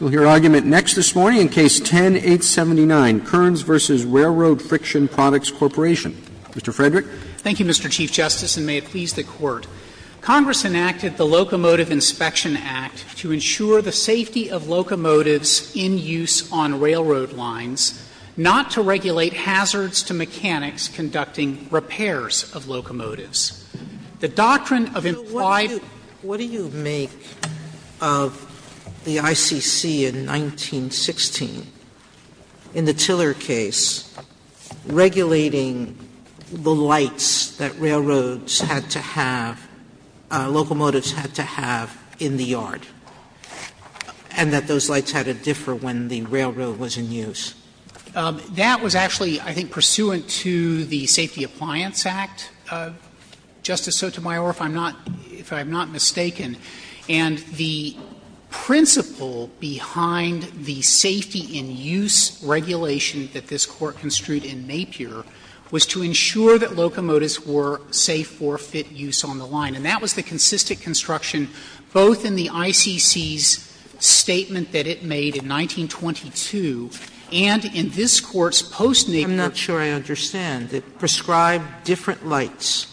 We'll hear argument next this morning in Case 10-879, Kurns v. Railroad Friction Products Corporation. Mr. Frederick. Thank you, Mr. Chief Justice, and may it please the Court. Congress enacted the Locomotive Inspection Act to ensure the safety of locomotives in use on railroad lines, not to regulate hazards to mechanics conducting repairs of locomotives. The doctrine of implied- Sotomayor of the ICC in 1916, in the Tiller case, regulating the lights that railroads had to have, locomotives had to have in the yard, and that those lights had to differ when the railroad was in use. That was actually, I think, pursuant to the Safety Appliance Act, Justice Sotomayor, if I'm not mistaken. And the principle behind the safety-in-use regulation that this Court construed in Napier was to ensure that locomotives were safe for fit use on the line. And that was the consistent construction, both in the ICC's statement that it made in 1922 and in this Court's post-Napier. Sotomayor I'm not sure I understand. It prescribed different lights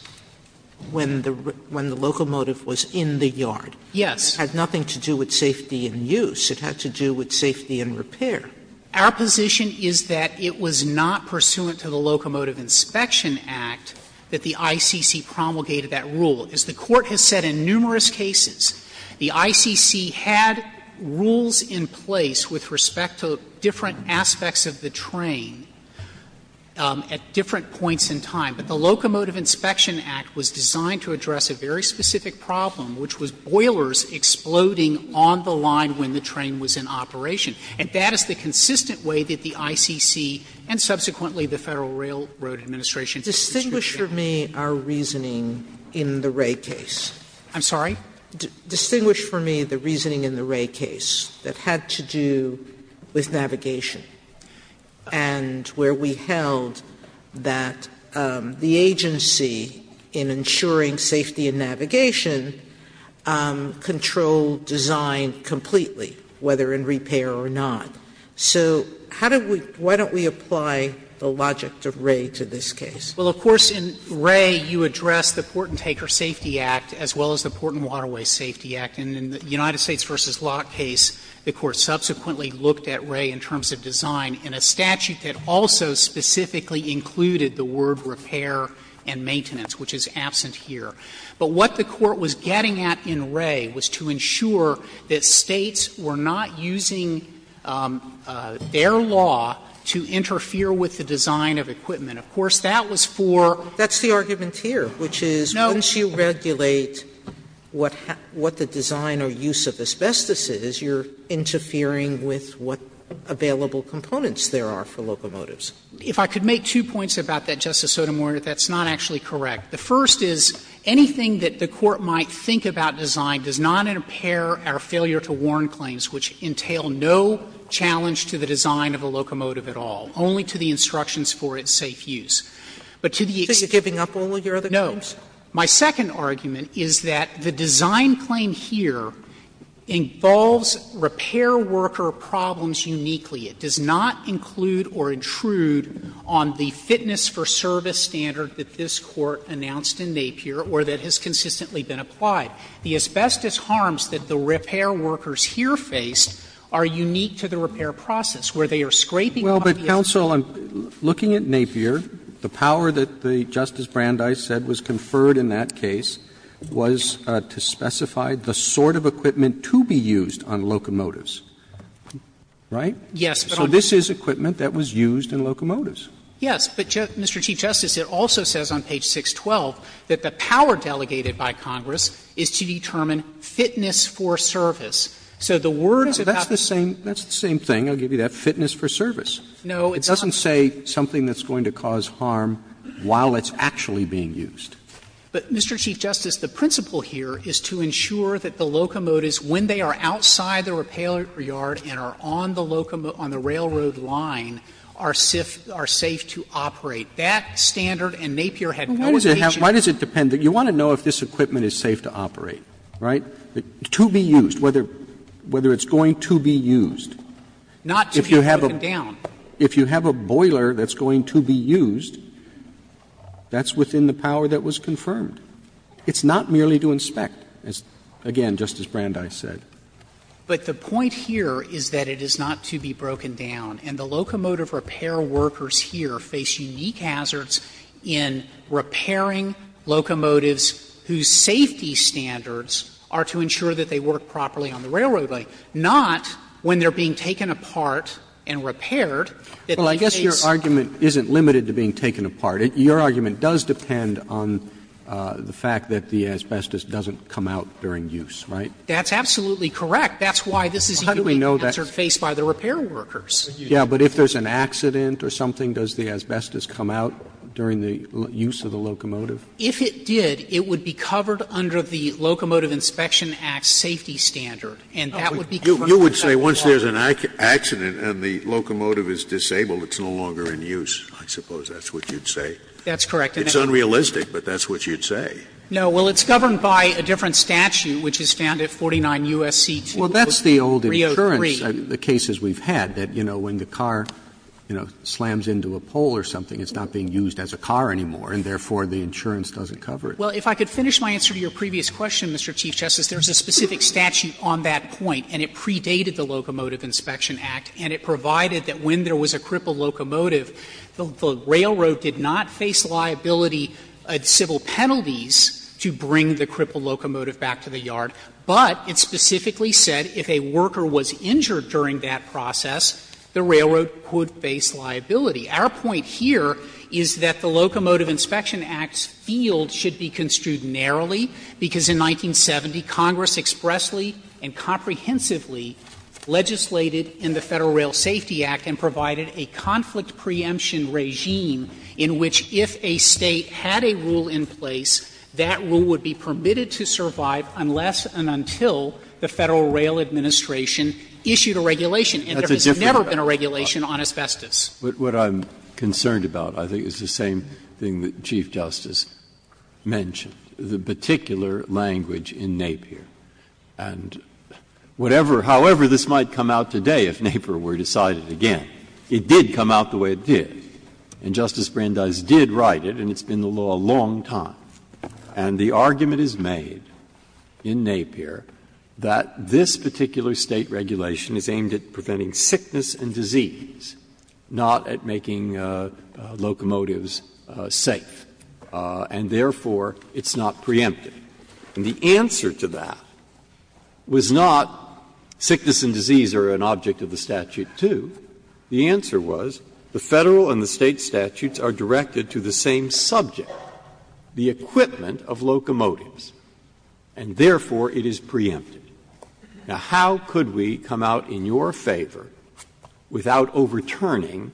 when the locomotive was in the yard. Yes. It had nothing to do with safety in use. It had to do with safety in repair. Our position is that it was not pursuant to the Locomotive Inspection Act that the ICC promulgated that rule. As the Court has said in numerous cases, the ICC had rules in place with respect to different aspects of the train at different points in time. But the Locomotive Inspection Act was designed to address a very specific problem, which was boilers exploding on the line when the train was in operation. And that is the consistent way that the ICC and subsequently the Federal Railroad Administration construed it. Sotomayor Distinguish for me our reasoning in the Wray case. I'm sorry? Distinguish for me the reasoning in the Wray case that had to do with navigation and where we held that the agency in ensuring safety in navigation controlled design completely, whether in repair or not. So how do we why don't we apply the logic of Wray to this case? Well, of course, in Wray you address the Port and Taker Safety Act as well as the Port and Waterway Safety Act. And in the United States v. Locke case, the Court subsequently looked at Wray in terms of design in a statute that also specifically included the word repair and maintenance, which is absent here. But what the Court was getting at in Wray was to ensure that States were not using their law to interfere with the design of equipment. Of course, that was for Sotomayor That's the argument here, which is once you regulate what the design or use of asbestos is, you're interfering with what available components there are for locomotives. If I could make two points about that, Justice Sotomayor, that's not actually correct. The first is anything that the Court might think about design does not impair our failure to warn claims, which entail no challenge to the design of a locomotive at all, only to the instructions for its safe use. But to the extent that Sotomayor Are you giving up all of your other claims? Sotomayor No. My second argument is that the design claim here involves repair worker problems uniquely. It does not include or intrude on the fitness for service standard that this Court announced in Napier or that has consistently been applied. The asbestos harms that the repair workers here face are unique to the repair process, where they are scraping off the asbestos. Roberts Well, but, counsel, looking at Napier, the power that Justice Brandeis said was conferred in that case was to specify the sort of equipment to be used on locomotives, right? Sotomayor Yes, but I'm Roberts So this is equipment that was used in locomotives. Sotomayor Yes, but, Mr. Chief Justice, it also says on page 612 that the power delegated by Congress is to determine fitness for service. So the word is about Roberts That's the same thing, I'll give you that. Sotomayor No, it's not. Roberts It doesn't say something that's going to cause harm while it's actually being used. Sotomayor But, Mr. Chief Justice, the principle here is to ensure that the locomotives, when they are outside the repair yard and are on the railroad line, are safe to operate. That standard in Napier had no indication of that. Roberts Well, why does it have to be, why does it depend, you want to know if this equipment is safe to operate, right, to be used, whether it's going to be used. Sotomayor Not to be broken down. Roberts If you have a boiler that's going to be used, that's within the power that was confirmed. It's not merely to inspect, again, just as Brandeis said. Sotomayor But the point here is that it is not to be broken down. And the locomotive repair workers here face unique hazards in repairing locomotives whose safety standards are to ensure that they work properly on the railroad line, not when they are being taken apart and repaired. Roberts Well, I guess your argument isn't limited to being taken apart. Your argument does depend on the fact that the asbestos doesn't come out during use, right? Sotomayor That's absolutely correct. That's why this is a unique hazard faced by the repair workers. Roberts Yeah, but if there's an accident or something, does the asbestos come out during the use of the locomotive? Sotomayor If it did, it would be covered under the Locomotive Inspection Act safety standard. And that would be covered by the law. Scalia You would say once there's an accident and the locomotive is disabled, it's no longer in use. I suppose that's what you'd say. Sotomayor That's correct. Scalia It's unrealistic, but that's what you'd say. Sotomayor No. Well, it's governed by a different statute, which is found at 49 U.S.C. 2.303. Roberts Well, that's the old insurance, the cases we've had, that, you know, when the car, you know, slams into a pole or something, it's not being used as a car anymore, and therefore the insurance doesn't cover it. Sotomayor Well, if I could finish my answer to your previous question, Mr. Chief Justice, there's a specific statute on that point, and it predated the Locomotive Inspection Act, and it provided that when there was a crippled locomotive, the railroad did not face liability civil penalties to bring the crippled locomotive back to the yard, but it specifically said if a worker was injured during that process, the railroad could face liability. Our point here is that the Locomotive Inspection Act's field should be construed because in 1970, Congress expressly and comprehensively legislated in the Federal Rail Safety Act and provided a conflict preemption regime in which if a State had a rule in place, that rule would be permitted to survive unless and until the Federal Rail Administration issued a regulation, and there has never been a regulation on asbestos. Breyer What I'm concerned about, I think, is the same thing that Chief Justice Brandeis mentioned, the particular language in Napier. And whatever, however, this might come out today if Napier were decided again, it did come out the way it did. And Justice Brandeis did write it, and it's been the law a long time. And the argument is made in Napier that this particular State regulation is aimed at preventing sickness and disease, not at making locomotives safe. And therefore, it's not preempted. And the answer to that was not sickness and disease are an object of the statute, too. The answer was the Federal and the State statutes are directed to the same subject, the equipment of locomotives, and therefore it is preempted. Now, how could we come out in your favor without overturning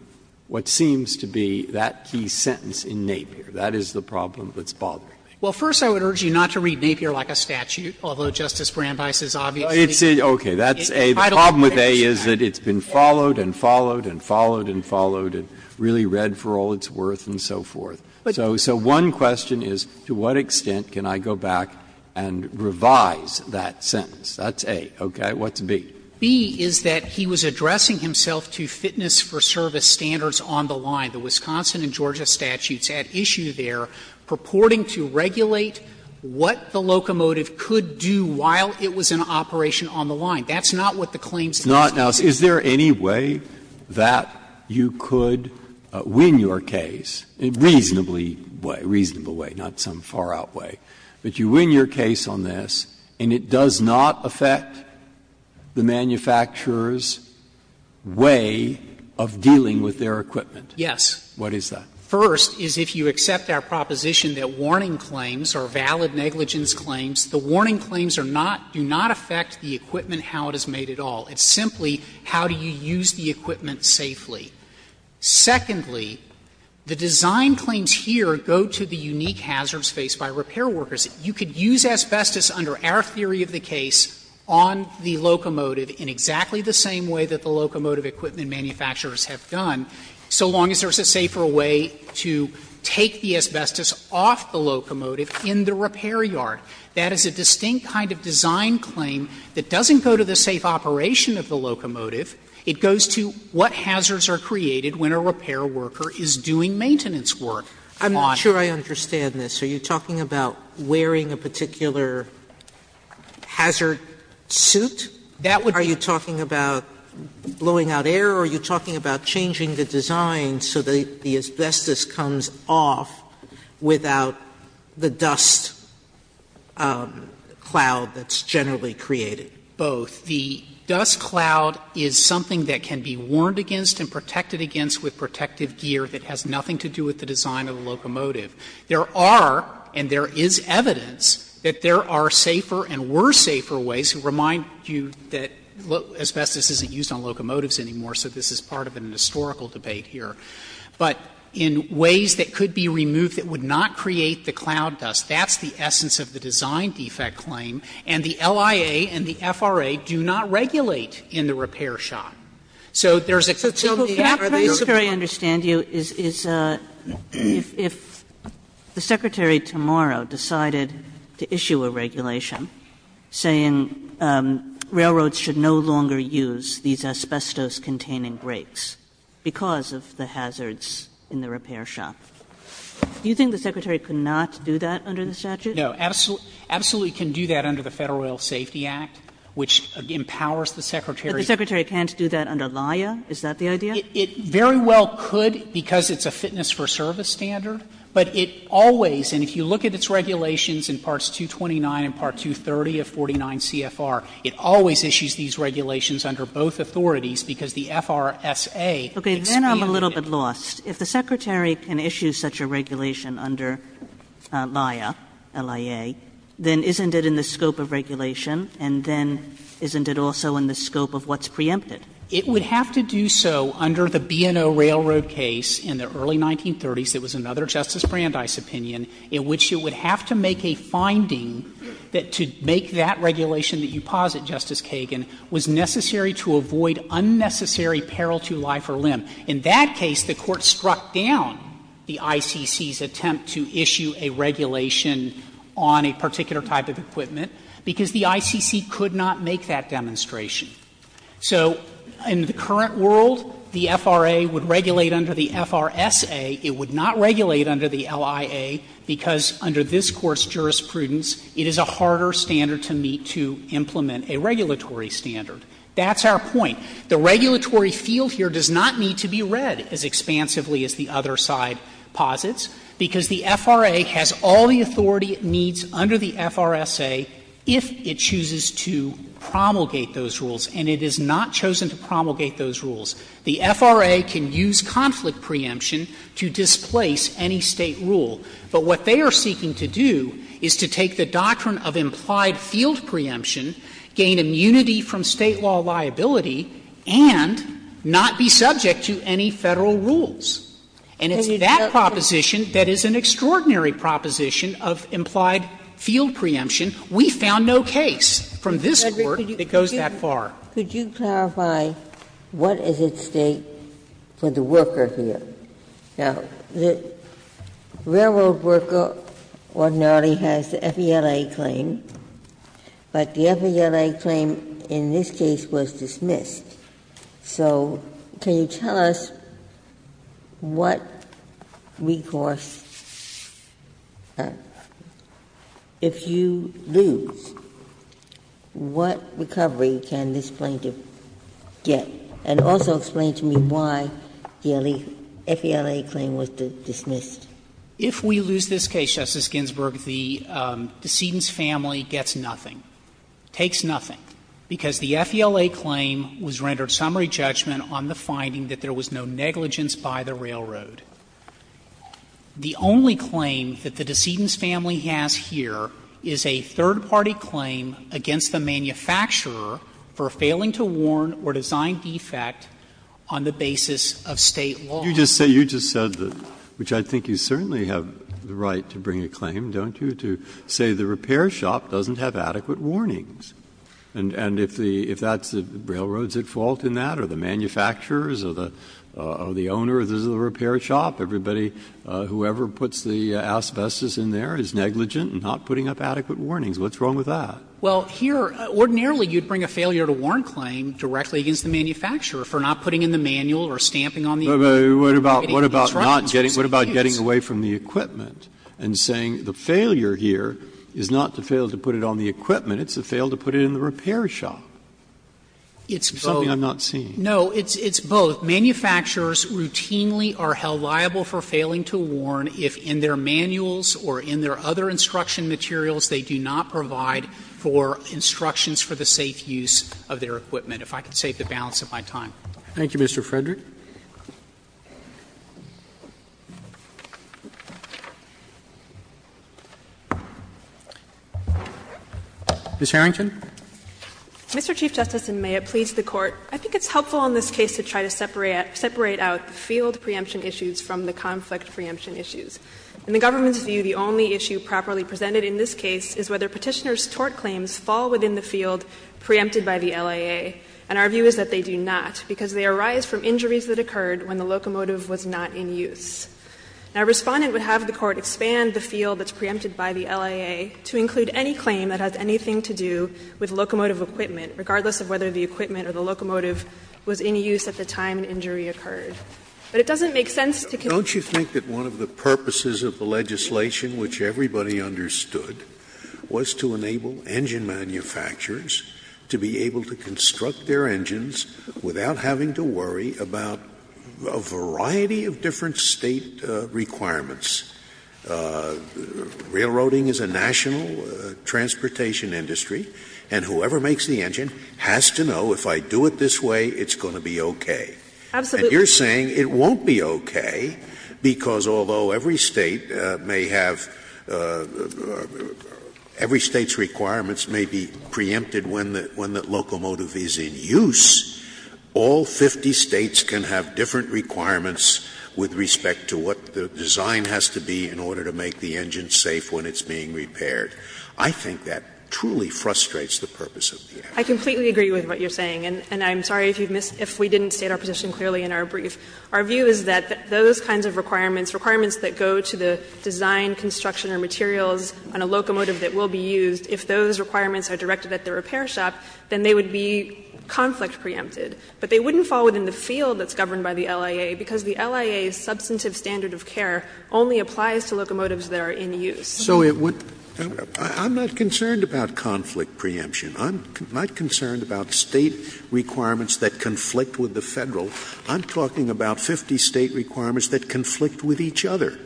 what seems to be that key sentence in Napier? That is the problem that's bothering me. Sotomayor Well, first, I would urge you not to read Napier like a statute, although Justice Brandeis is obviously entitled to that. Breyer Okay. That's A. The problem with A is that it's been followed and followed and followed and followed and really read for all its worth and so forth. So one question is, to what extent can I go back and revise that sentence? That's A. Okay. What's B? Sotomayor B is that he was addressing himself to fitness for service standards on the line. The Wisconsin and Georgia statutes at issue there purporting to regulate what the locomotive could do while it was in operation on the line. That's not what the claims is about. Breyer Is there any way that you could win your case, in a reasonably way, a reasonable way, not some far-out way, that you win your case on this and it does not affect the manufacturer's way of dealing with their equipment? Sotomayor Yes. Breyer What is that? Sotomayor First is if you accept our proposition that warning claims are valid negligence claims, the warning claims are not, do not affect the equipment how it is made at all. It's simply how do you use the equipment safely. Secondly, the design claims here go to the unique hazards faced by repair workers. You could use asbestos under our theory of the case on the locomotive in exactly the same way that the locomotive equipment manufacturers have done, so long as there is a safer way to take the asbestos off the locomotive in the repair yard. That is a distinct kind of design claim that doesn't go to the safe operation of the locomotive. It goes to what hazards are created when a repair worker is doing maintenance work on it. Sotomayor I'm not sure I understand this. Are you talking about wearing a particular hazard suit? Are you talking about blowing out air, or are you talking about changing the design so that the asbestos comes off without the dust cloud that's generally created? Both. The dust cloud is something that can be warned against and protected against with protective gear that has nothing to do with the design of the locomotive. There are, and there is evidence, that there are safer and were safer ways to remind you that asbestos isn't used on locomotives anymore, so this is part of an historical debate here. But in ways that could be removed that would not create the cloud dust, that's the essence of the design defect claim, and the LIA and the FRA do not regulate in the repair shop. So there's a facility out there that is not. Kagan. Kagan. Kagan. Sotomayor, what I don't very understand you is if the Secretary tomorrow decided to issue a regulation saying railroads should no longer use these asbestos-containing brakes because of the hazards in the repair shop, do you think the Secretary could not do that under the statute? No. Absolutely can do that under the Federal Rail Safety Act, which empowers the Secretary. But the Secretary can't do that under LIA? Is that the idea? It very well could because it's a fitness for service standard, but it always, and if you look at its regulations in parts 229 and part 230 of 49 CFR, it always issues these regulations under both authorities because the FRSA expanded it. Okay. Then I'm a little bit lost. If the Secretary can issue such a regulation under LIA, L-I-A, then isn't it in the scope of regulation and then isn't it also in the scope of what's preempted? It would have to do so under the B&O Railroad case in the early 1930s. It was another Justice Brandeis opinion in which it would have to make a finding that to make that regulation that you posit, Justice Kagan, was necessary to avoid unnecessary peril to life or limb. In that case, the Court struck down the ICC's attempt to issue a regulation on a particular type of equipment because the ICC could not make that demonstration. So in the current world, the FRA would regulate under the FRSA. It would not regulate under the LIA because under this Court's jurisprudence, it is a harder standard to meet to implement a regulatory standard. That's our point. The regulatory field here does not need to be read as expansively as the other side posits because the FRA has all the authority it needs under the FRSA if it chooses to promulgate those rules, and it has not chosen to promulgate those rules. The FRA can use conflict preemption to displace any State rule, but what they are seeking to do is to take the doctrine of implied field preemption, gain immunity from State law liability, and not be subject to any Federal rules. And it's that proposition that is an extraordinary proposition of implied field preemption. We found no case from this Court that goes that far. Ginsburg. Could you clarify what is at stake for the worker here? Now, the railroad worker ordinarily has the FELA claim, but the FELA claim in this case was dismissed. So can you tell us what recourse, if you lose, what recovery can this plaintiff get, and also explain to me why the FELA claim was dismissed? If we lose this case, Justice Ginsburg, the decedent's family gets nothing, takes nothing, because the FELA claim was rendered summary judgment on the finding that there was no negligence by the railroad. The only claim that the decedent's family has here is a third-party claim against the manufacturer for failing to warn or design defect on the basis of State law. You just said that, which I think you certainly have the right to bring a claim, don't you, to say the repair shop doesn't have adequate warnings. And if that's the railroad's fault in that, or the manufacturer's, or the owner of the repair shop, everybody, whoever puts the asbestos in there is negligent and not putting up adequate warnings, what's wrong with that? Well, here, ordinarily you'd bring a failure to warn claim directly against the manufacturer for not putting in the manual or stamping on the equipment. But what about not getting, what about getting away from the equipment and saying the failure here is not to fail to put it on the equipment, it's to fail to put it in the repair shop? It's something I'm not seeing. No, it's both. Manufacturers routinely are held liable for failing to warn if in their manuals or in their other instruction materials they do not provide for instructions for the safe use of their equipment. If I could save the balance of my time. Thank you, Mr. Frederick. Ms. Harrington. Mr. Chief Justice, and may it please the Court, I think it's helpful in this case to try to separate out the field preemption issues from the conflict preemption issues. In the government's view, the only issue properly presented in this case is whether Petitioner's tort claims fall within the field preempted by the LIA, and our view is that they do not, because they arise from injuries that occurred when the locomotive was not in use. Now, Respondent would have the Court expand the field that's preempted by the LIA to include any claim that has anything to do with locomotive equipment, regardless of whether the equipment or the locomotive was in use at the time an injury occurred. But it doesn't make sense to continue to use the same field preemption issues. Scalia. Don't you think that one of the purposes of the legislation, which everybody understood, was to enable engine manufacturers to be able to construct their engines without having to worry about a variety of different State requirements? Railroading is a national transportation industry, and whoever makes the engine has to know if I do it this way, it's going to be okay. And you're saying it won't be okay, because although every State may have — every State's requirements may be preempted when the locomotive is in use, all 50 States can have different requirements with respect to what the design has to be in order to make the engine safe when it's being repaired. I think that truly frustrates the purpose of the act. I completely agree with what you're saying, and I'm sorry if you've missed — if we didn't state our position clearly in our brief. Our view is that those kinds of requirements, requirements that go to the design, construction, or materials on a locomotive that will be used, if those requirements are directed at the repair shop, then they would be conflict preempted. But they wouldn't fall within the field that's governed by the LIA, because the LIA's substantive standard of care only applies to locomotives that are in use. Scalia. So it would — I'm not concerned about conflict preemption. I'm not concerned about State requirements that conflict with the Federal. I'm talking about 50 State requirements that conflict with each other,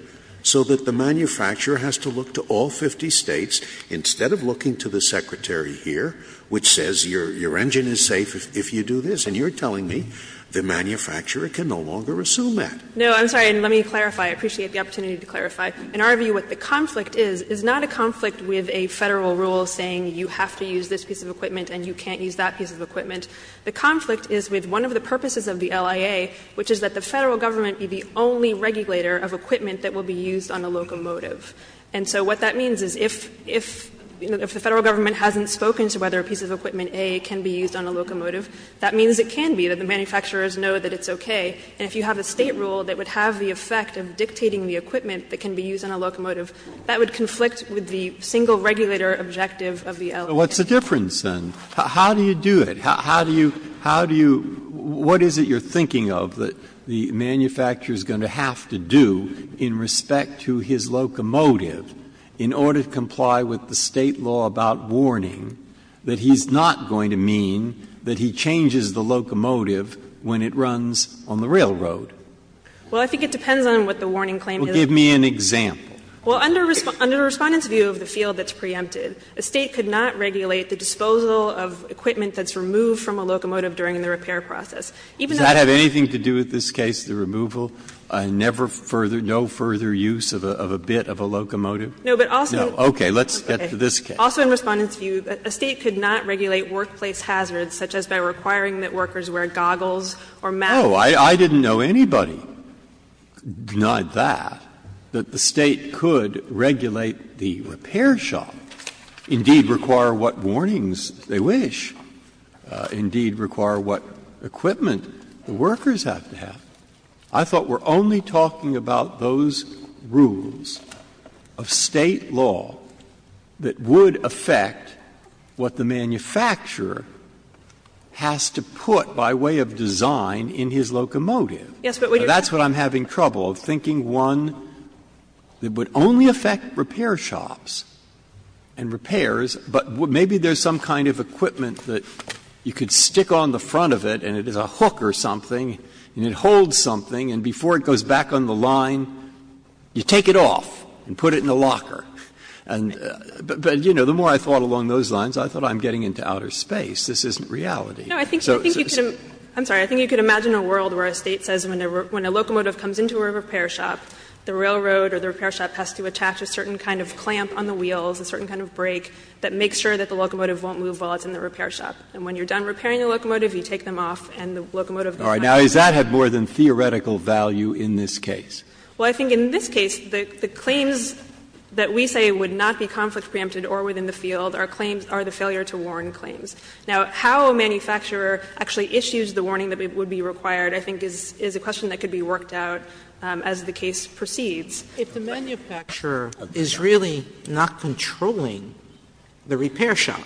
so that the manufacturer has to look to all 50 States instead of looking to the Secretary here, which says your engine is safe if you do this. And you're telling me the manufacturer can no longer assume that. No, I'm sorry, and let me clarify. I appreciate the opportunity to clarify. In our view, what the conflict is, is not a conflict with a Federal rule saying you have to use this piece of equipment and you can't use that piece of equipment. The conflict is with one of the purposes of the LIA, which is that the Federal Government be the only regulator of equipment that will be used on a locomotive. And so what that means is if — if the Federal Government hasn't spoken to whether a piece of equipment, A, can be used on a locomotive, that means it can be, that the manufacturers know that it's okay. And if you have a State rule that would have the effect of dictating the equipment that can be used on a locomotive, that would conflict with the single regulator objective of the LIA. Breyer, what's the difference, then? How do you do it? How do you — how do you — what is it you're thinking of that the manufacturer is going to have to do in respect to his locomotive in order to comply with the State law about warning that he's not going to mean that he changes the locomotive when it runs on the railroad? Well, I think it depends on what the warning claim is. Well, give me an example. Well, under Respondent's view of the field that's preempted, a State could not regulate the disposal of equipment that's removed from a locomotive during the repair process. Does that have anything to do with this case, the removal, never further, no further use of a bit of a locomotive? No, but also in Respondent's view, a State could not regulate workplace hazards such as by requiring that workers wear goggles or masks. Oh, I didn't know anybody denied that, that the State could regulate the repair shop, indeed, require what warnings they wish, indeed, require what equipment the workers have to have. I thought we're only talking about those rules of State law that would affect what the manufacturer has to put by way of design in his locomotive. Yes, but we don't. I'm having trouble of thinking, one, it would only affect repair shops and repairs, but maybe there's some kind of equipment that you could stick on the front of it and it is a hook or something and it holds something, and before it goes back on the line, you take it off and put it in the locker. But, you know, the more I thought along those lines, I thought I'm getting into outer space, this isn't reality. No, I think you could imagine a world where a State says when a locomotive comes into a repair shop, the railroad or the repair shop has to attach a certain kind of clamp on the wheels, a certain kind of brake that makes sure that the locomotive won't move while it's in the repair shop. And when you're done repairing the locomotive, you take them off and the locomotive goes back on the line. Breyer. Now, does that have more than theoretical value in this case? Well, I think in this case, the claims that we say would not be conflict preempted or within the field are claims or the failure to warn claims. Now, how a manufacturer actually issues the warning that would be required, I think, is a question that could be worked out as the case proceeds. If the manufacturer is really not controlling the repair shop,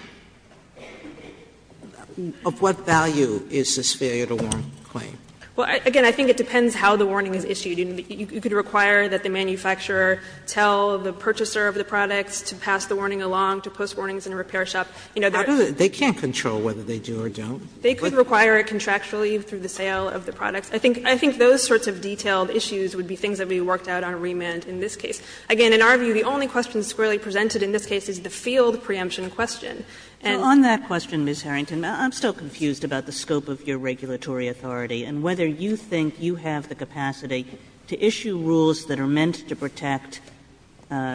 of what value is this failure to warn claim? Well, again, I think it depends how the warning is issued. You could require that the manufacturer tell the purchaser of the products to pass the warning along, to post warnings in a repair shop. How do they do it? They can't control whether they do or don't. They could require a contractual leave through the sale of the products. I think those sorts of detailed issues would be things that would be worked out on remand in this case. Again, in our view, the only question squarely presented in this case is the field preemption question. And the other question is whether the manufacturer is actually controlling the repair shop. And whether you think you have the capacity to issue rules that are meant to protect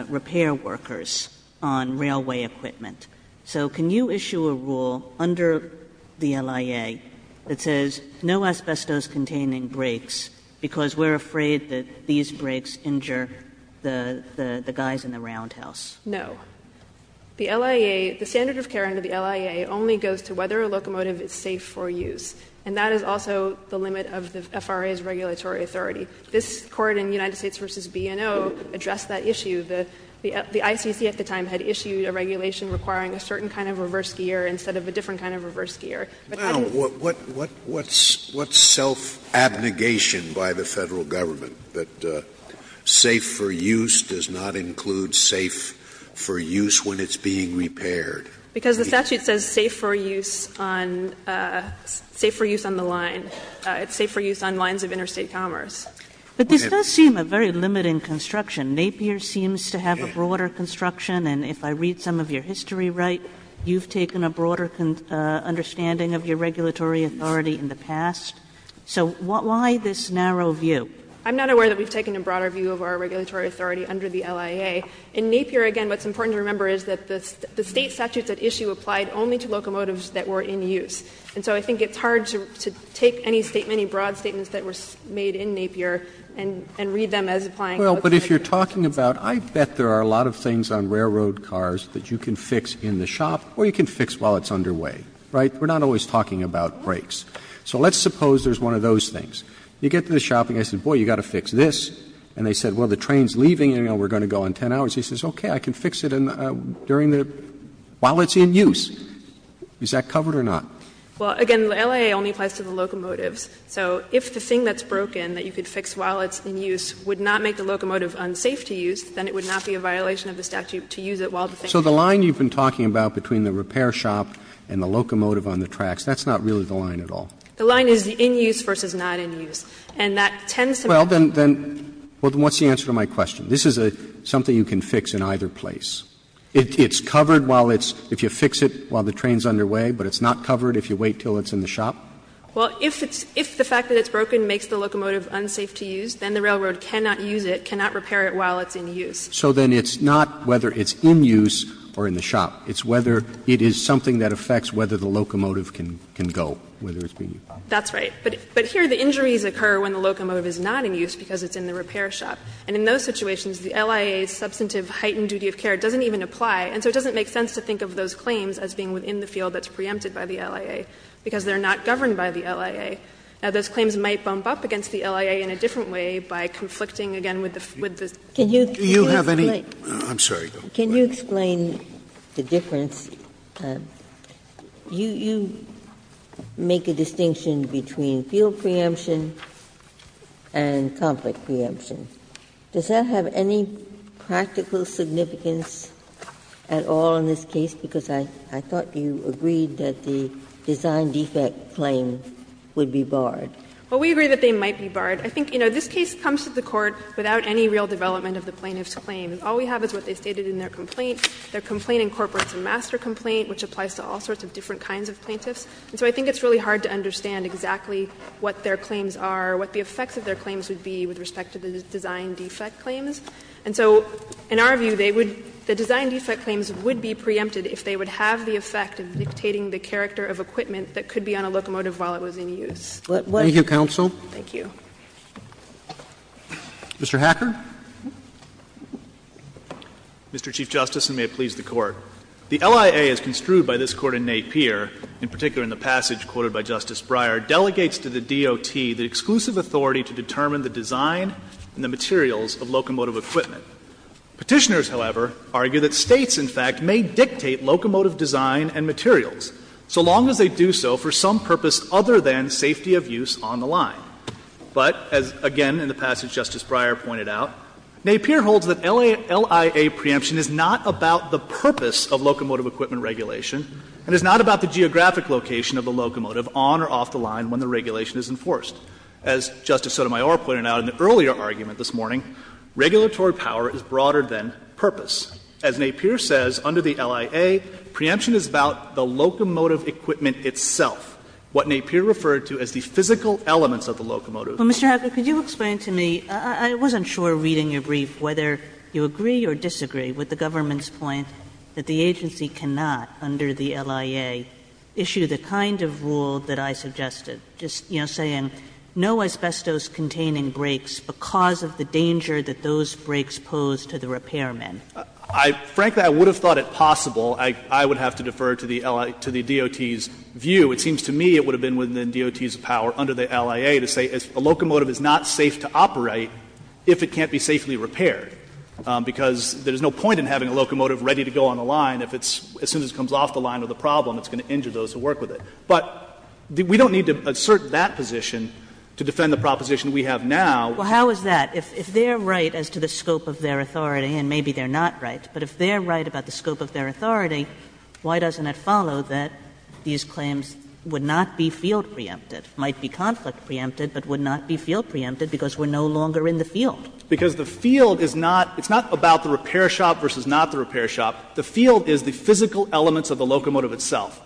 repair workers on railway equipment. So can you issue a rule under the LIA that says no asbestos containing brakes, because we're afraid that these brakes injure the guys in the roundhouse? No. The LIA, the standard of care under the LIA only goes to whether a locomotive is safe for use. And that is also the limit of the FRA's regulatory authority. This Court in United States v. B&O addressed that issue. The ICC at the time had issued a regulation requiring a certain kind of reverse gear instead of a different kind of reverse gear. But then what's self-abnegation by the Federal Government that safe for use does not include safe for use when it's being repaired? Because the statute says safe for use on the line. It's safe for use on lines of interstate commerce. But this does seem a very limiting construction. Napier seems to have a broader construction, and if I read some of your history right, you've taken a broader understanding of your regulatory authority in the past. So why this narrow view? I'm not aware that we've taken a broader view of our regulatory authority under the LIA. In Napier, again, what's important to remember is that the State statutes at issue applied only to locomotives that were in use. And so I think it's hard to take any broad statements that were made in Napier and read them as applying what's in the statute. Well, but if you're talking about, I bet there are a lot of things on railroad cars that you can fix in the shop, or you can fix while it's underway, right? We're not always talking about brakes. So let's suppose there's one of those things. You get to the shop and you say, boy, you've got to fix this. And they said, well, the train's leaving and we're going to go in 10 hours. He says, okay, I can fix it during the — while it's in use. Is that covered or not? Napier Well, again, the LIA only applies to the locomotives. So if the thing that's broken that you could fix while it's in use would not make the locomotive unsafe to use, then it would not be a violation of the statute to use it while the thing is in use. Roberts So the line you've been talking about between the repair shop and the locomotive on the tracks, that's not really the line at all? Napier The line is in use versus not in use. And that tends to make it more difficult. Roberts Well, then what's the answer to my question? This is something you can fix in either place. It's covered while it's — if you fix it while the train's underway, but it's not covered if you wait until it's in the shop? Napier Well, if it's — if the fact that it's broken makes the locomotive unsafe to use, then the railroad cannot use it, cannot repair it while it's in use. Roberts So then it's not whether it's in use or in the shop. It's whether it is something that affects whether the locomotive can go, whether it's being used. Napier That's right. But here the injuries occur when the locomotive is not in use because it's in the repair shop. And in those situations, the LIA's substantive heightened duty of care doesn't even apply, and so it doesn't make sense to think of those claims as being within the field that's preempted by the LIA, because they're not governed by the LIA. Now, those claims might bump up against the LIA in a different way by conflicting again with the — with the — Ginsburg Do you have any — Scalia I'm sorry. Go ahead. Ginsburg Can you explain the difference? You — you make a distinction between field preemption and conflict preemption. Does that have any practical significance at all in this case? Because I — I thought you agreed that the design defect claim would be barred. Harrington Well, we agree that they might be barred. I think, you know, this case comes to the Court without any real development of the plaintiff's claim. All we have is what they stated in their complaint, their complaint in corporates and master complaint, which applies to all sorts of different kinds of plaintiffs. And so I think it's really hard to understand exactly what their claims are, what the effects of their claims would be with respect to the design defect claims. And so in our view, they would — the design defect claims would be preempted if they would have the effect of dictating the character of equipment that could be on a locomotive while it was in use. Roberts Thank you, counsel. Harrington Thank you. Roberts Mr. Hacker. Hacker Mr. Chief Justice, and may it please the Court. The LIA, as construed by this Court in Napier, in particular in the passage quoted by Justice Breyer, delegates to the DOT the exclusive authority to determine the design and the materials of locomotive equipment. Petitioners, however, argue that States, in fact, may dictate locomotive design and materials so long as they do so for some purpose other than safety of use on the line. But, as again in the passage Justice Breyer pointed out, Napier holds that LIA preemption is not about the purpose of locomotive equipment regulation and is not about the geographic location of the locomotive on or off the line when the regulation is enforced. As Justice Sotomayor pointed out in the earlier argument this morning, regulatory power is broader than purpose. As Napier says, under the LIA, preemption is about the locomotive equipment itself, what Napier referred to as the physical elements of the locomotive. Kagan Well, Mr. Hacker, could you explain to me, I wasn't sure reading your brief whether you agree or disagree with the government's point that the agency cannot, under the LIA, issue the kind of rule that I suggested, just, you know, saying no asbestos-containing brakes because of the danger that those brakes pose to the repairman? Hacker I — frankly, I would have thought it possible. I would have to defer to the D.O.T.'s view. It seems to me it would have been within the D.O.T.'s power under the LIA to say a locomotive is not safe to operate if it can't be safely repaired, because there's no point in having a locomotive ready to go on the line if it's — as soon as it comes off the line or the problem, it's going to injure those who work with it. But we don't need to assert that position to defend the proposition we have now. Kagan Well, how is that? If they're right as to the scope of their authority, and maybe they're not right, but if they're right about the scope of their authority, why doesn't it follow that these claims would not be field preempted, might be conflict preempted, but would not be field preempted because we're no longer in the field? Hacker Because the field is not — it's not about the repair shop versus not the repair shop. The field is the physical elements of the locomotive itself.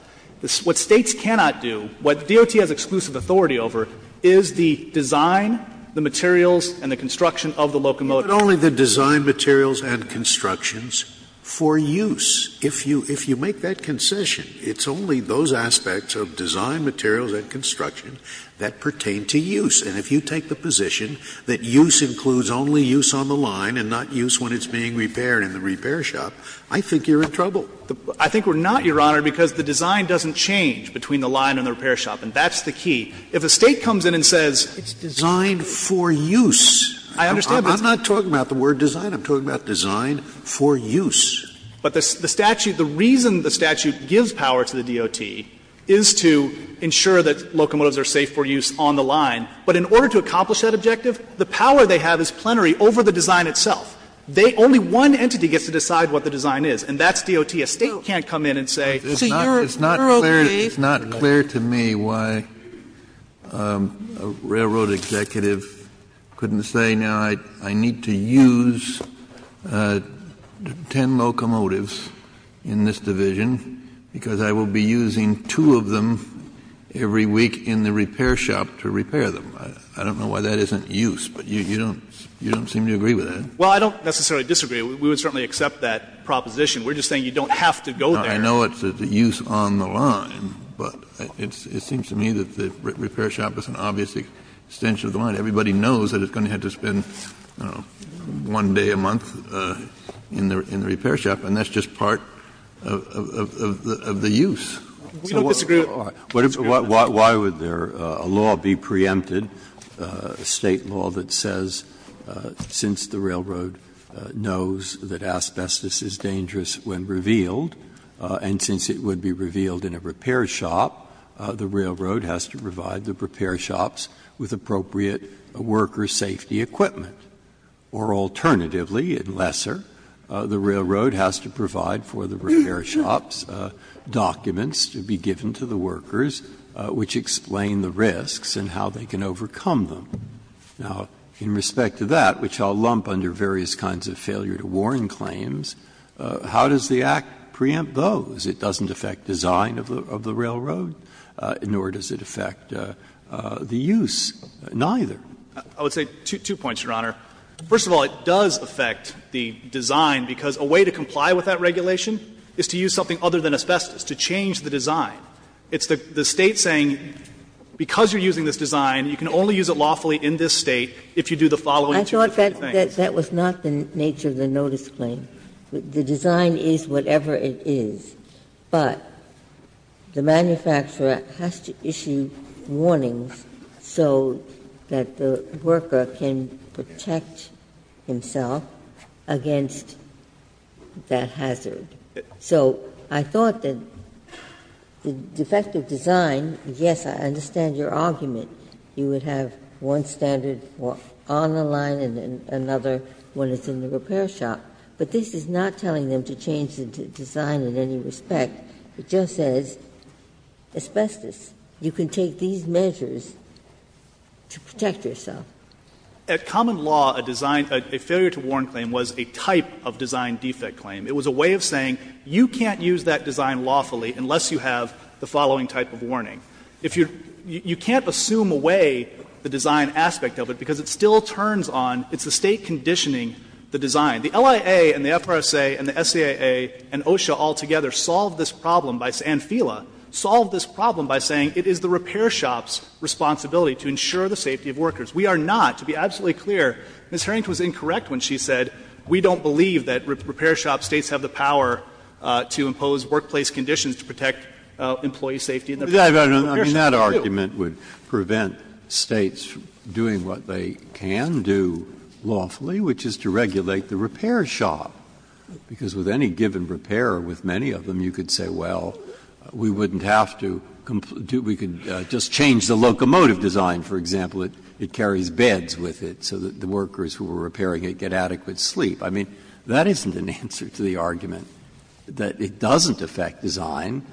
What States cannot do, what DOT has exclusive authority over, is the design, the materials, and the construction of the locomotive. Scalia But only the design materials and constructions for use. If you — if you make that concession, it's only those aspects of design materials and construction that pertain to use. And if you take the position that use includes only use on the line and not use when I think we're not, Your Honor, because the design doesn't change between the line and the repair shop, and that's the key. If a State comes in and says — Scalia It's designed for use. Hacker I understand, but — Scalia I'm not talking about the word design. I'm talking about design for use. Hacker But the statute — the reason the statute gives power to the DOT is to ensure that locomotives are safe for use on the line. But in order to accomplish that objective, the power they have is plenary over the design itself. They — only one entity gets to decide what the design is, and that's DOT. If a State can't come in and say, so you're okay. Kennedy It's not clear to me why a railroad executive couldn't say, now, I need to use 10 locomotives in this division because I will be using two of them every week in the repair shop to repair them. I don't know why that isn't use, but you don't seem to agree with that. Hacker Well, I don't necessarily disagree. We would certainly accept that proposition. We're just saying you don't have to go there. Kennedy I know it's a use on the line, but it seems to me that the repair shop is an obvious extension of the line. Everybody knows that it's going to have to spend, you know, one day a month in the repair shop, and that's just part of the use. Scalia We don't disagree. Breyer Why would there a law be preempted, a State law that says since the railroad knows that asbestos is dangerous when revealed, and since it would be revealed in a repair shop, the railroad has to provide the repair shops with appropriate worker safety equipment, or alternatively, in Lesser, the railroad has to provide for the repair shop's documents to be given to the workers, which explain the risks and how they can overcome them. Now, in respect to that, which I'll lump under various kinds of failure to warn claims, how does the Act preempt those? It doesn't affect design of the railroad, nor does it affect the use, neither. Hacker I would say two points, Your Honor. First of all, it does affect the design, because a way to comply with that regulation is to use something other than asbestos to change the design. It's the State saying, because you're using this design, you can only use it lawfully in this State if you do the following two different things. Ginsburg I thought that that was not the nature of the notice claim. The design is whatever it is, but the manufacturer has to issue warnings so that the worker can protect himself against that hazard. So I thought that the defective design, yes, I understand your argument. You would have one standard on the line and another when it's in the repair shop. But this is not telling them to change the design in any respect. It just says asbestos. You can take these measures to protect yourself. Hacker At common law, a design of a failure to warn claim was a type of design defect claim. It was a way of saying you can't use that design lawfully unless you have the following type of warning. If you're you can't assume away the design aspect of it, because it still turns on, it's the State conditioning the design. The LIA and the FRSA and the SCAA and OSHA all together solved this problem by, and FILA, solved this problem by saying it is the repair shop's responsibility to ensure the safety of workers. We are not, to be absolutely clear, Ms. Hering was incorrect when she said we don't believe that repair shop States have the power to impose workplace conditions to protect employee safety in the repair shop. Breyer I mean, that argument would prevent States doing what they can do lawfully, which is to regulate the repair shop. Because with any given repair, with many of them, you could say, well, we wouldn't have to do we could just change the locomotive design, for example, it carries beds with it so that the workers who were repairing it get adequate sleep. I mean, that isn't an answer to the argument that it doesn't affect design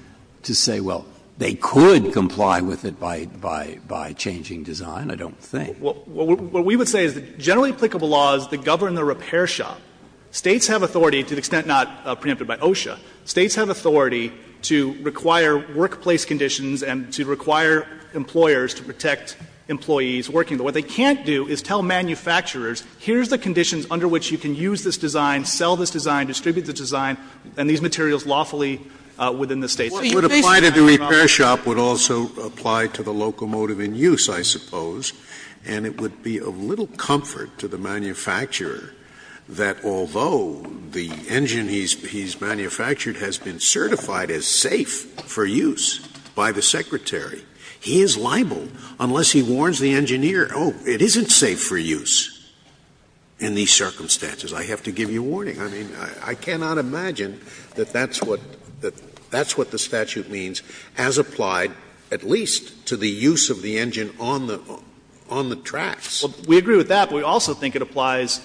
to say, well, they could comply with it by changing design, I don't think. Fisher What we would say is that generally applicable laws that govern the repair shop, States have authority, to the extent not preempted by OSHA, States have authority to require workplace conditions and to require employers to protect employees working there. What they can't do is tell manufacturers, here's the conditions under which you can use this design, sell this design, distribute this design, and these materials lawfully within the States. Scalia What would apply to the repair shop would also apply to the locomotive in use, I suppose. And it would be of little comfort to the manufacturer that, although the engine he's manufactured has been certified as safe for use by the Secretary, he is liable unless he warns the engineer, oh, it isn't safe for use in these circumstances. I have to give you a warning. I mean, I cannot imagine that that's what the statute means has applied at least to the use of the engine on the tracks. Fisher Well, we agree with that, but we also think it applies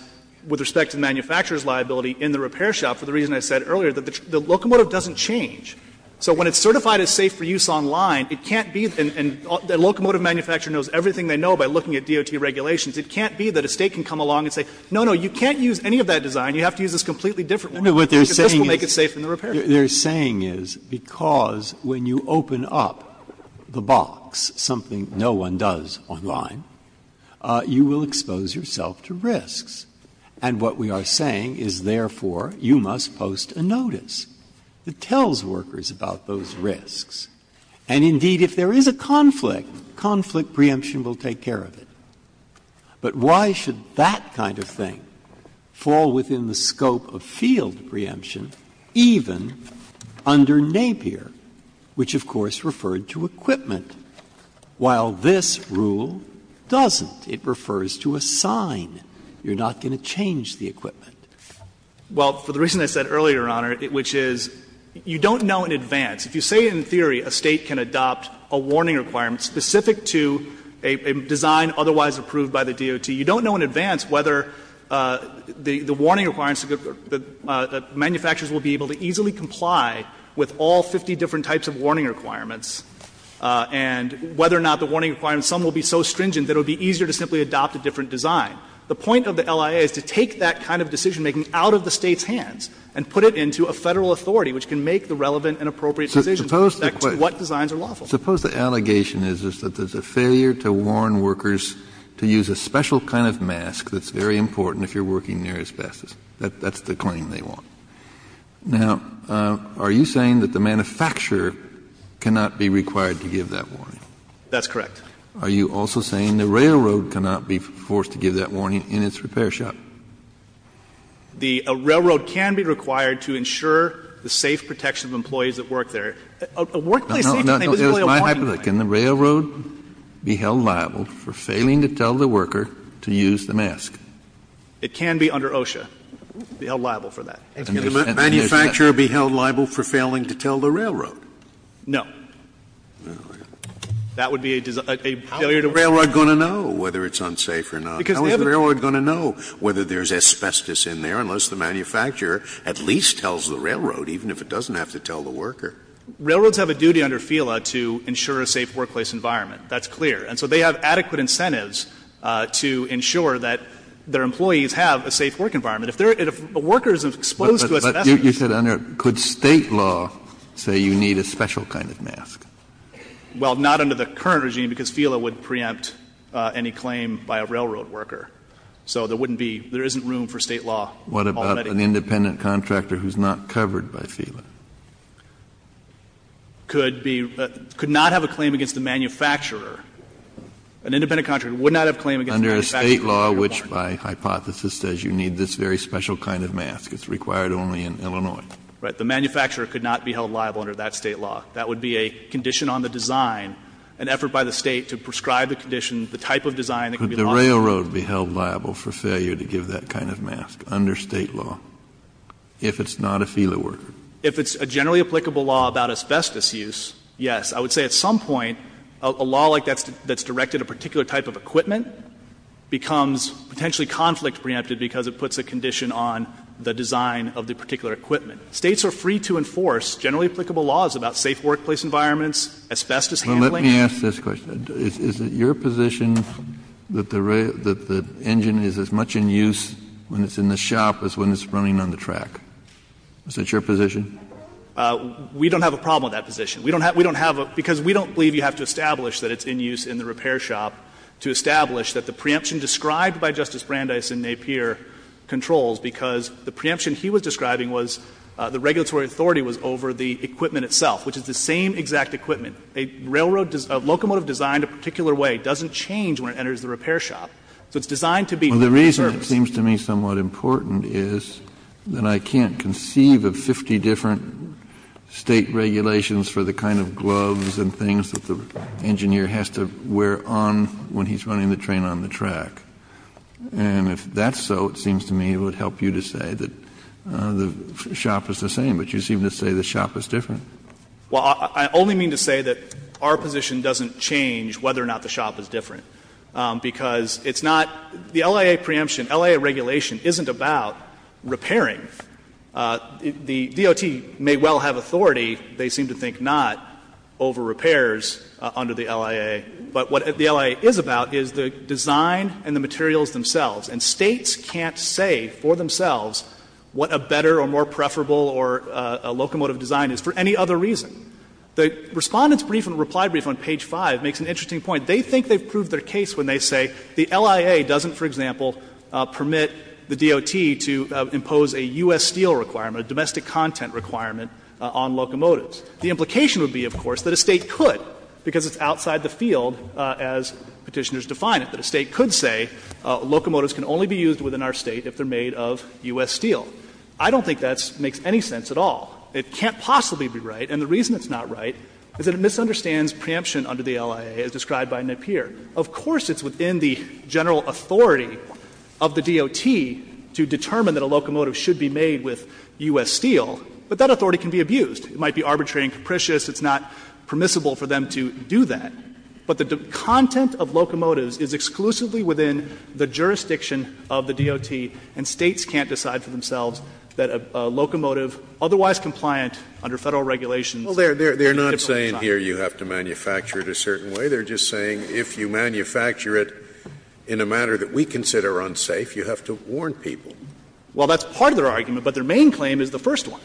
with respect to the manufacturer's liability in the repair shop for the reason I said earlier, that the locomotive doesn't change. So when it's certified as safe for use online, it can't be that a locomotive manufacturer knows everything they know by looking at DOT regulations. It can't be that a State can come along and say, no, no, you can't use any of that design. You have to use this completely different one, because this will make it safe in the repair shop. Breyer No, no. What they're saying is because when you open up the box, something no one does online, you will expose yourself to risks. And what we are saying is, therefore, you must post a notice that tells workers about those risks. And indeed, if there is a conflict, conflict preemption will take care of it. But why should that kind of thing fall within the scope of field preemption, even under Napier, which of course referred to equipment, while this rule doesn't? It refers to a sign. You're not going to change the equipment. Fisher Well, for the reason I said earlier, Your Honor, which is you don't know in advance. If you say in theory a State can adopt a warning requirement specific to a design otherwise approved by the DOT, you don't know in advance whether the warning requirements, the manufacturers will be able to easily comply with all 50 different types of warning requirements, and whether or not the warning requirements, some will be so stringent that it will be easier to simply adopt a different design. The point of the LIA is to take that kind of decisionmaking out of the State's hands and put it into a Federal authority, which can make the relevant and appropriate decisions as to what designs are lawful. Kennedy Suppose the allegation is that there's a failure to warn workers to use a special kind of mask that's very important if you're working near asbestos. That's the claim they want. Now, are you saying that the manufacturer cannot be required to give that warning? Fisher That's correct. Kennedy Are you also saying the railroad cannot be forced to give that warning in its repair shop? Fisher The railroad can be required to ensure the safe protection of employees that work there. A workplace safety thing doesn't really apply. Kennedy My hypothesis, can the railroad be held liable for failing to tell the worker to use the mask? Fisher It can be under OSHA, be held liable for that. Scalia Can the manufacturer be held liable for failing to tell the railroad? Fisher No. That would be a failure to warn. Scalia How is the railroad going to know whether it's unsafe or not? How is the railroad going to know whether there's asbestos in there unless the manufacturer at least tells the railroad, even if it doesn't have to tell the worker? Fisher Railroads have a duty under FILA to ensure a safe workplace environment. That's clear. And so they have adequate incentives to ensure that their employees have a safe work environment. If workers are exposed to asbestos ---- Kennedy But you said under, could State law say you need a special kind of mask? Fisher Well, not under the current regime, because FILA would preempt any claim by a railroad worker. So there wouldn't be, there isn't room for State law. Kennedy What about an independent contractor who's not covered by FILA? Fisher Could be, could not have a claim against the manufacturer. An independent contractor would not have a claim against the manufacturer if they were warned. Kennedy Under a State law which, by hypothesis, says you need this very special kind of mask. It's required only in Illinois. Fisher Right. The manufacturer could not be held liable under that State law. That would be a condition on the design, an effort by the State to prescribe the condition, the type of design that could be liable. Kennedy Could the railroad be held liable for failure to give that kind of mask under State law if it's not a FILA worker? Fisher If it's a generally applicable law about asbestos use, yes. I would say at some point a law like that's directed a particular type of equipment becomes potentially conflict preempted because it puts a condition on the design of the particular equipment. States are free to enforce generally applicable laws about safe workplace environments, asbestos handling. Kennedy Well, let me ask this question. Is it your position that the engine is as much in use when it's in the shop as when it's running on the track? Is that your position? Fisher We don't have a problem with that position. We don't have a — because we don't believe you have to establish that it's in use in the repair shop to establish that the preemption described by Justice Brandeis in Napier controls, because the preemption he was describing was the regulatory authority was over the equipment itself, which is the same exact equipment. A railroad — a locomotive designed a particular way doesn't change when it enters the repair shop. So it's designed to be— Well, the reason it seems to me somewhat important is that I can't conceive of 50 different State regulations for the kind of gloves and things that the engineer has to wear on when he's running the train on the track. And if that's so, it seems to me it would help you to say that the shop is the same. But you seem to say the shop is different. Fisher Well, I only mean to say that our position doesn't change whether or not the shop is different. Because it's not — the LIA preemption, LIA regulation isn't about repairing. The DOT may well have authority. They seem to think not over repairs under the LIA. But what the LIA is about is the design and the materials themselves. And States can't say for themselves what a better or more preferable or a locomotive design is for any other reason. The Respondent's brief and reply brief on page 5 makes an interesting point. They think they've proved their case when they say the LIA doesn't, for example, permit the DOT to impose a U.S. steel requirement, a domestic content requirement on locomotives. The implication would be, of course, that a State could, because it's outside the field as Petitioners define it, that a State could say locomotives can only be used within our State if they're made of U.S. steel. I don't think that makes any sense at all. It can't possibly be right. And the reason it's not right is that it misunderstands preemption under the LIA as defined up here. Of course, it's within the general authority of the DOT to determine that a locomotive should be made with U.S. steel, but that authority can be abused. It might be arbitrary and capricious. It's not permissible for them to do that. But the content of locomotives is exclusively within the jurisdiction of the DOT, and States can't decide for themselves that a locomotive otherwise compliant under Federal regulations can be a different design. Scalia, you have to manufacture it a certain way. They're just saying if you manufacture it in a manner that we consider unsafe, you have to warn people. Well, that's part of their argument, but their main claim is the first one,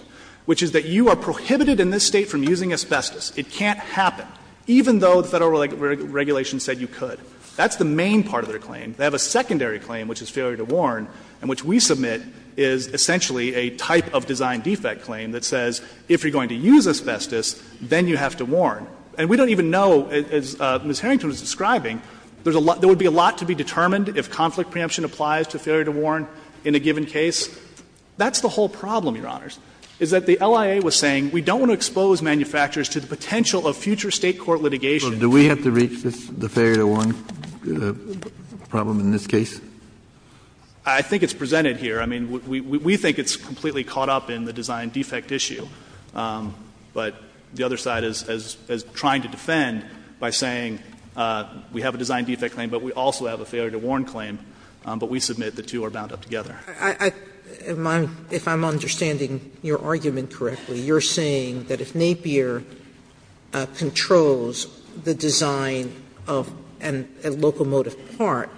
which is that you are prohibited in this State from using asbestos. It can't happen, even though the Federal regulations said you could. That's the main part of their claim. They have a secondary claim, which is failure to warn, and which we submit is essentially a type of design defect claim that says if you're going to use asbestos, then you have to warn. And we don't even know, as Ms. Harrington was describing, there would be a lot to be determined if conflict preemption applies to failure to warn in a given case. That's the whole problem, Your Honors, is that the LIA was saying we don't want to expose manufacturers to the potential of future State court litigation. Do we have to reach the failure to warn problem in this case? I think it's presented here. I mean, we think it's completely caught up in the design defect issue. But the other side is trying to defend by saying we have a design defect claim, but we also have a failure to warn claim, but we submit the two are bound up together. Sotomayor, if I'm understanding your argument correctly, you're saying that if Napier controls the design of a locomotive part,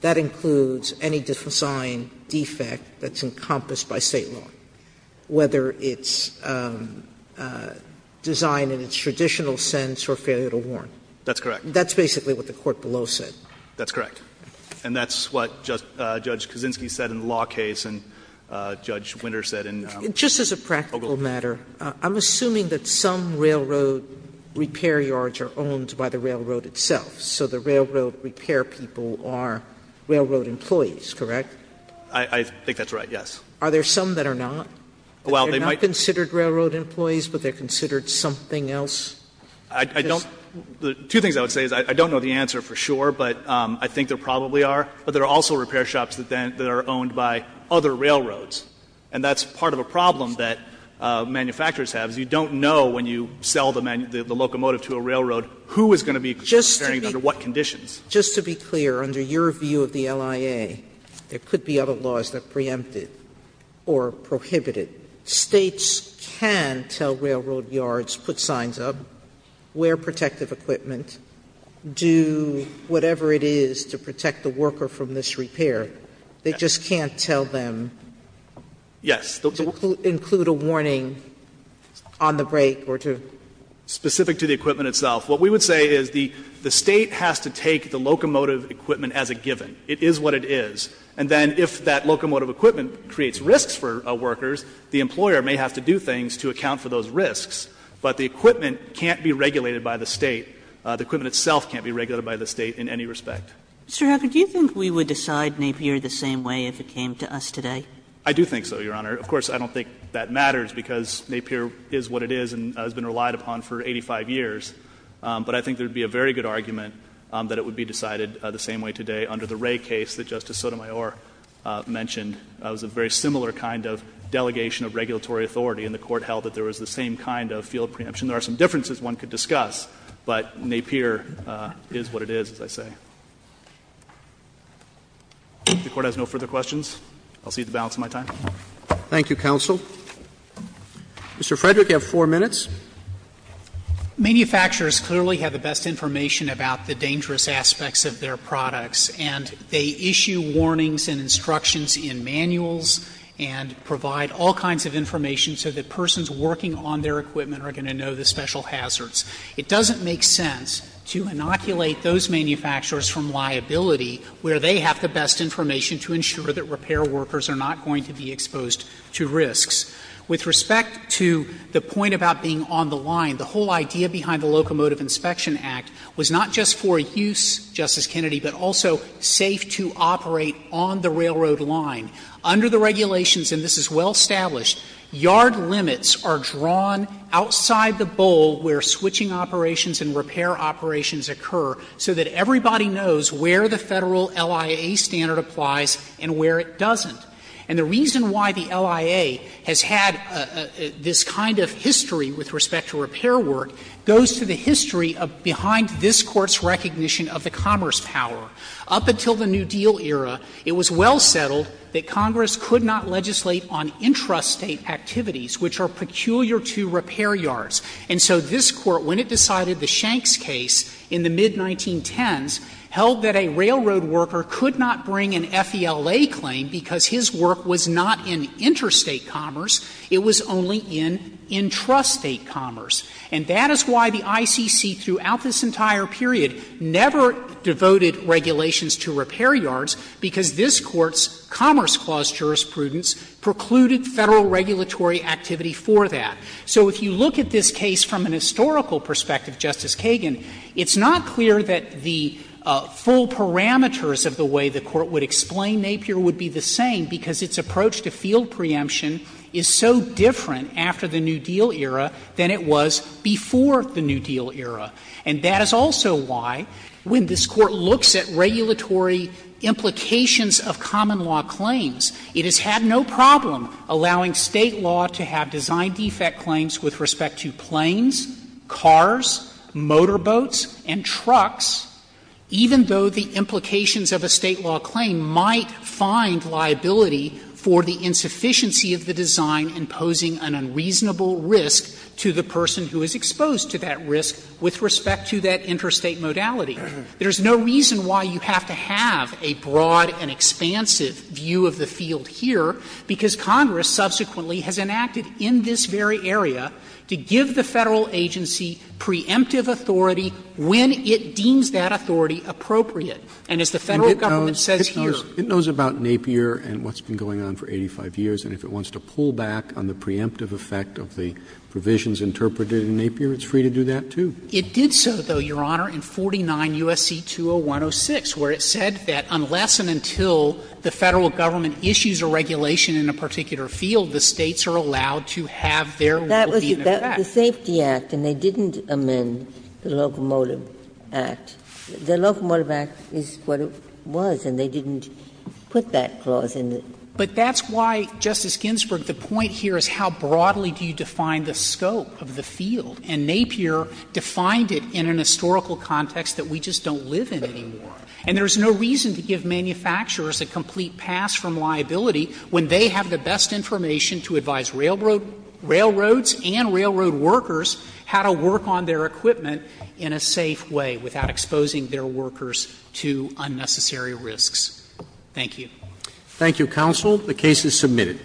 that includes any design defect that's designed in its traditional sense or failure to warn? That's correct. That's basically what the court below said. That's correct. And that's what Judge Kaczynski said in the law case and Judge Winter said in Oglewood. Just as a practical matter, I'm assuming that some railroad repair yards are owned by the railroad itself. So the railroad repair people are railroad employees, correct? I think that's right, yes. Are there some that are not? They're not considered railroad employees, but they're considered something else? I don't – two things I would say is I don't know the answer for sure, but I think there probably are. But there are also repair shops that are owned by other railroads. And that's part of a problem that manufacturers have, is you don't know when you sell the locomotive to a railroad who is going to be considering it under what conditions. Just to be clear, under your view of the LIA, there could be other laws that preempted or prohibited. States can tell railroad yards, put signs up, wear protective equipment, do whatever it is to protect the worker from this repair. They just can't tell them to include a warning on the break or to do something else. Specific to the equipment itself. What we would say is the State has to take the locomotive equipment as a given. It is what it is. And then if that locomotive equipment creates risks for workers, the employer may have to do things to account for those risks. But the equipment can't be regulated by the State. The equipment itself can't be regulated by the State in any respect. Kagan, do you think we would decide Napier the same way if it came to us today? I do think so, Your Honor. Of course, I don't think that matters, because Napier is what it is and has been relied upon for 85 years. But I think there would be a very good argument that it would be decided the same way today under the Wray case that Justice Sotomayor mentioned. It was a very similar kind of delegation of regulatory authority, and the Court held that there was the same kind of field preemption. There are some differences one could discuss, but Napier is what it is, as I say. If the Court has no further questions, I'll cede the balance of my time. Thank you, counsel. Mr. Frederick, you have four minutes. Manufacturers clearly have the best information about the dangerous aspects of their products, and they issue warnings and instructions in manuals and provide all kinds of information so that persons working on their equipment are going to know the special hazards. It doesn't make sense to inoculate those manufacturers from liability where they have the best information to ensure that repair workers are not going to be exposed to risks. With respect to the point about being on the line, the whole idea behind the Locomotive Inspection Act was not just for use, Justice Kennedy, but also safe to operate on the railroad line. Under the regulations, and this is well established, yard limits are drawn outside the bowl where switching operations and repair operations occur so that everybody knows where the Federal LIA standard applies and where it doesn't. And the reason why the LIA has had this kind of history with respect to repair work goes to the history behind this Court's recognition of the commerce power. Up until the New Deal era, it was well settled that Congress could not legislate on intrastate activities, which are peculiar to repair yards. And so this Court, when it decided the Shanks case in the mid-1910s, held that a railroad worker could not bring an FELA claim because his work was not in interstate commerce, it was only in intrastate commerce. And that is why the ICC throughout this entire period never devoted regulations to repair yards, because this Court's Commerce Clause jurisprudence precluded Federal regulatory activity for that. So if you look at this case from an historical perspective, Justice Kagan, it's not clear that the full parameters of the way the Court would explain Napier would be the same, because its approach to field preemption is so different after the New Deal era than it was before the New Deal era. And that is also why, when this Court looks at regulatory implications of common law claims, it has had no problem allowing State law to have design defect claims with respect to planes, cars, motorboats, and trucks, even though the implications of a State law claim might find liability for the insufficiency of the design imposing an unreasonable risk to the person who is exposed to that risk with respect to that interstate modality. There is no reason why you have to have a broad and expansive view of the field here, because Congress subsequently has enacted in this very area to give the Federal agency preemptive authority when it deems that authority appropriate. And as the Federal government says here. Roberts, it knows about Napier and what's been going on for 85 years, and if it wants to pull back on the preemptive effect of the provisions interpreted in Napier, it's free to do that, too. It did so, though, Your Honor, in 49 U.S.C. 20106, where it said that unless and until the Federal government issues a regulation in a particular field, the States are allowed to have their will be in effect. That was the Safety Act, and they didn't amend the Locomotive Act. The Locomotive Act is what it was, and they didn't put that clause in it. But that's why, Justice Ginsburg, the point here is how broadly do you define the scope of the field, and Napier defined it in an historical context that we just don't live in anymore. And there is no reason to give manufacturers a complete pass from liability when they have the best information to advise railroads and railroad workers how to work on their equipment in a safe way without exposing their workers to unnecessary risks. Thank you. Thank you, Counsel. The case is submitted.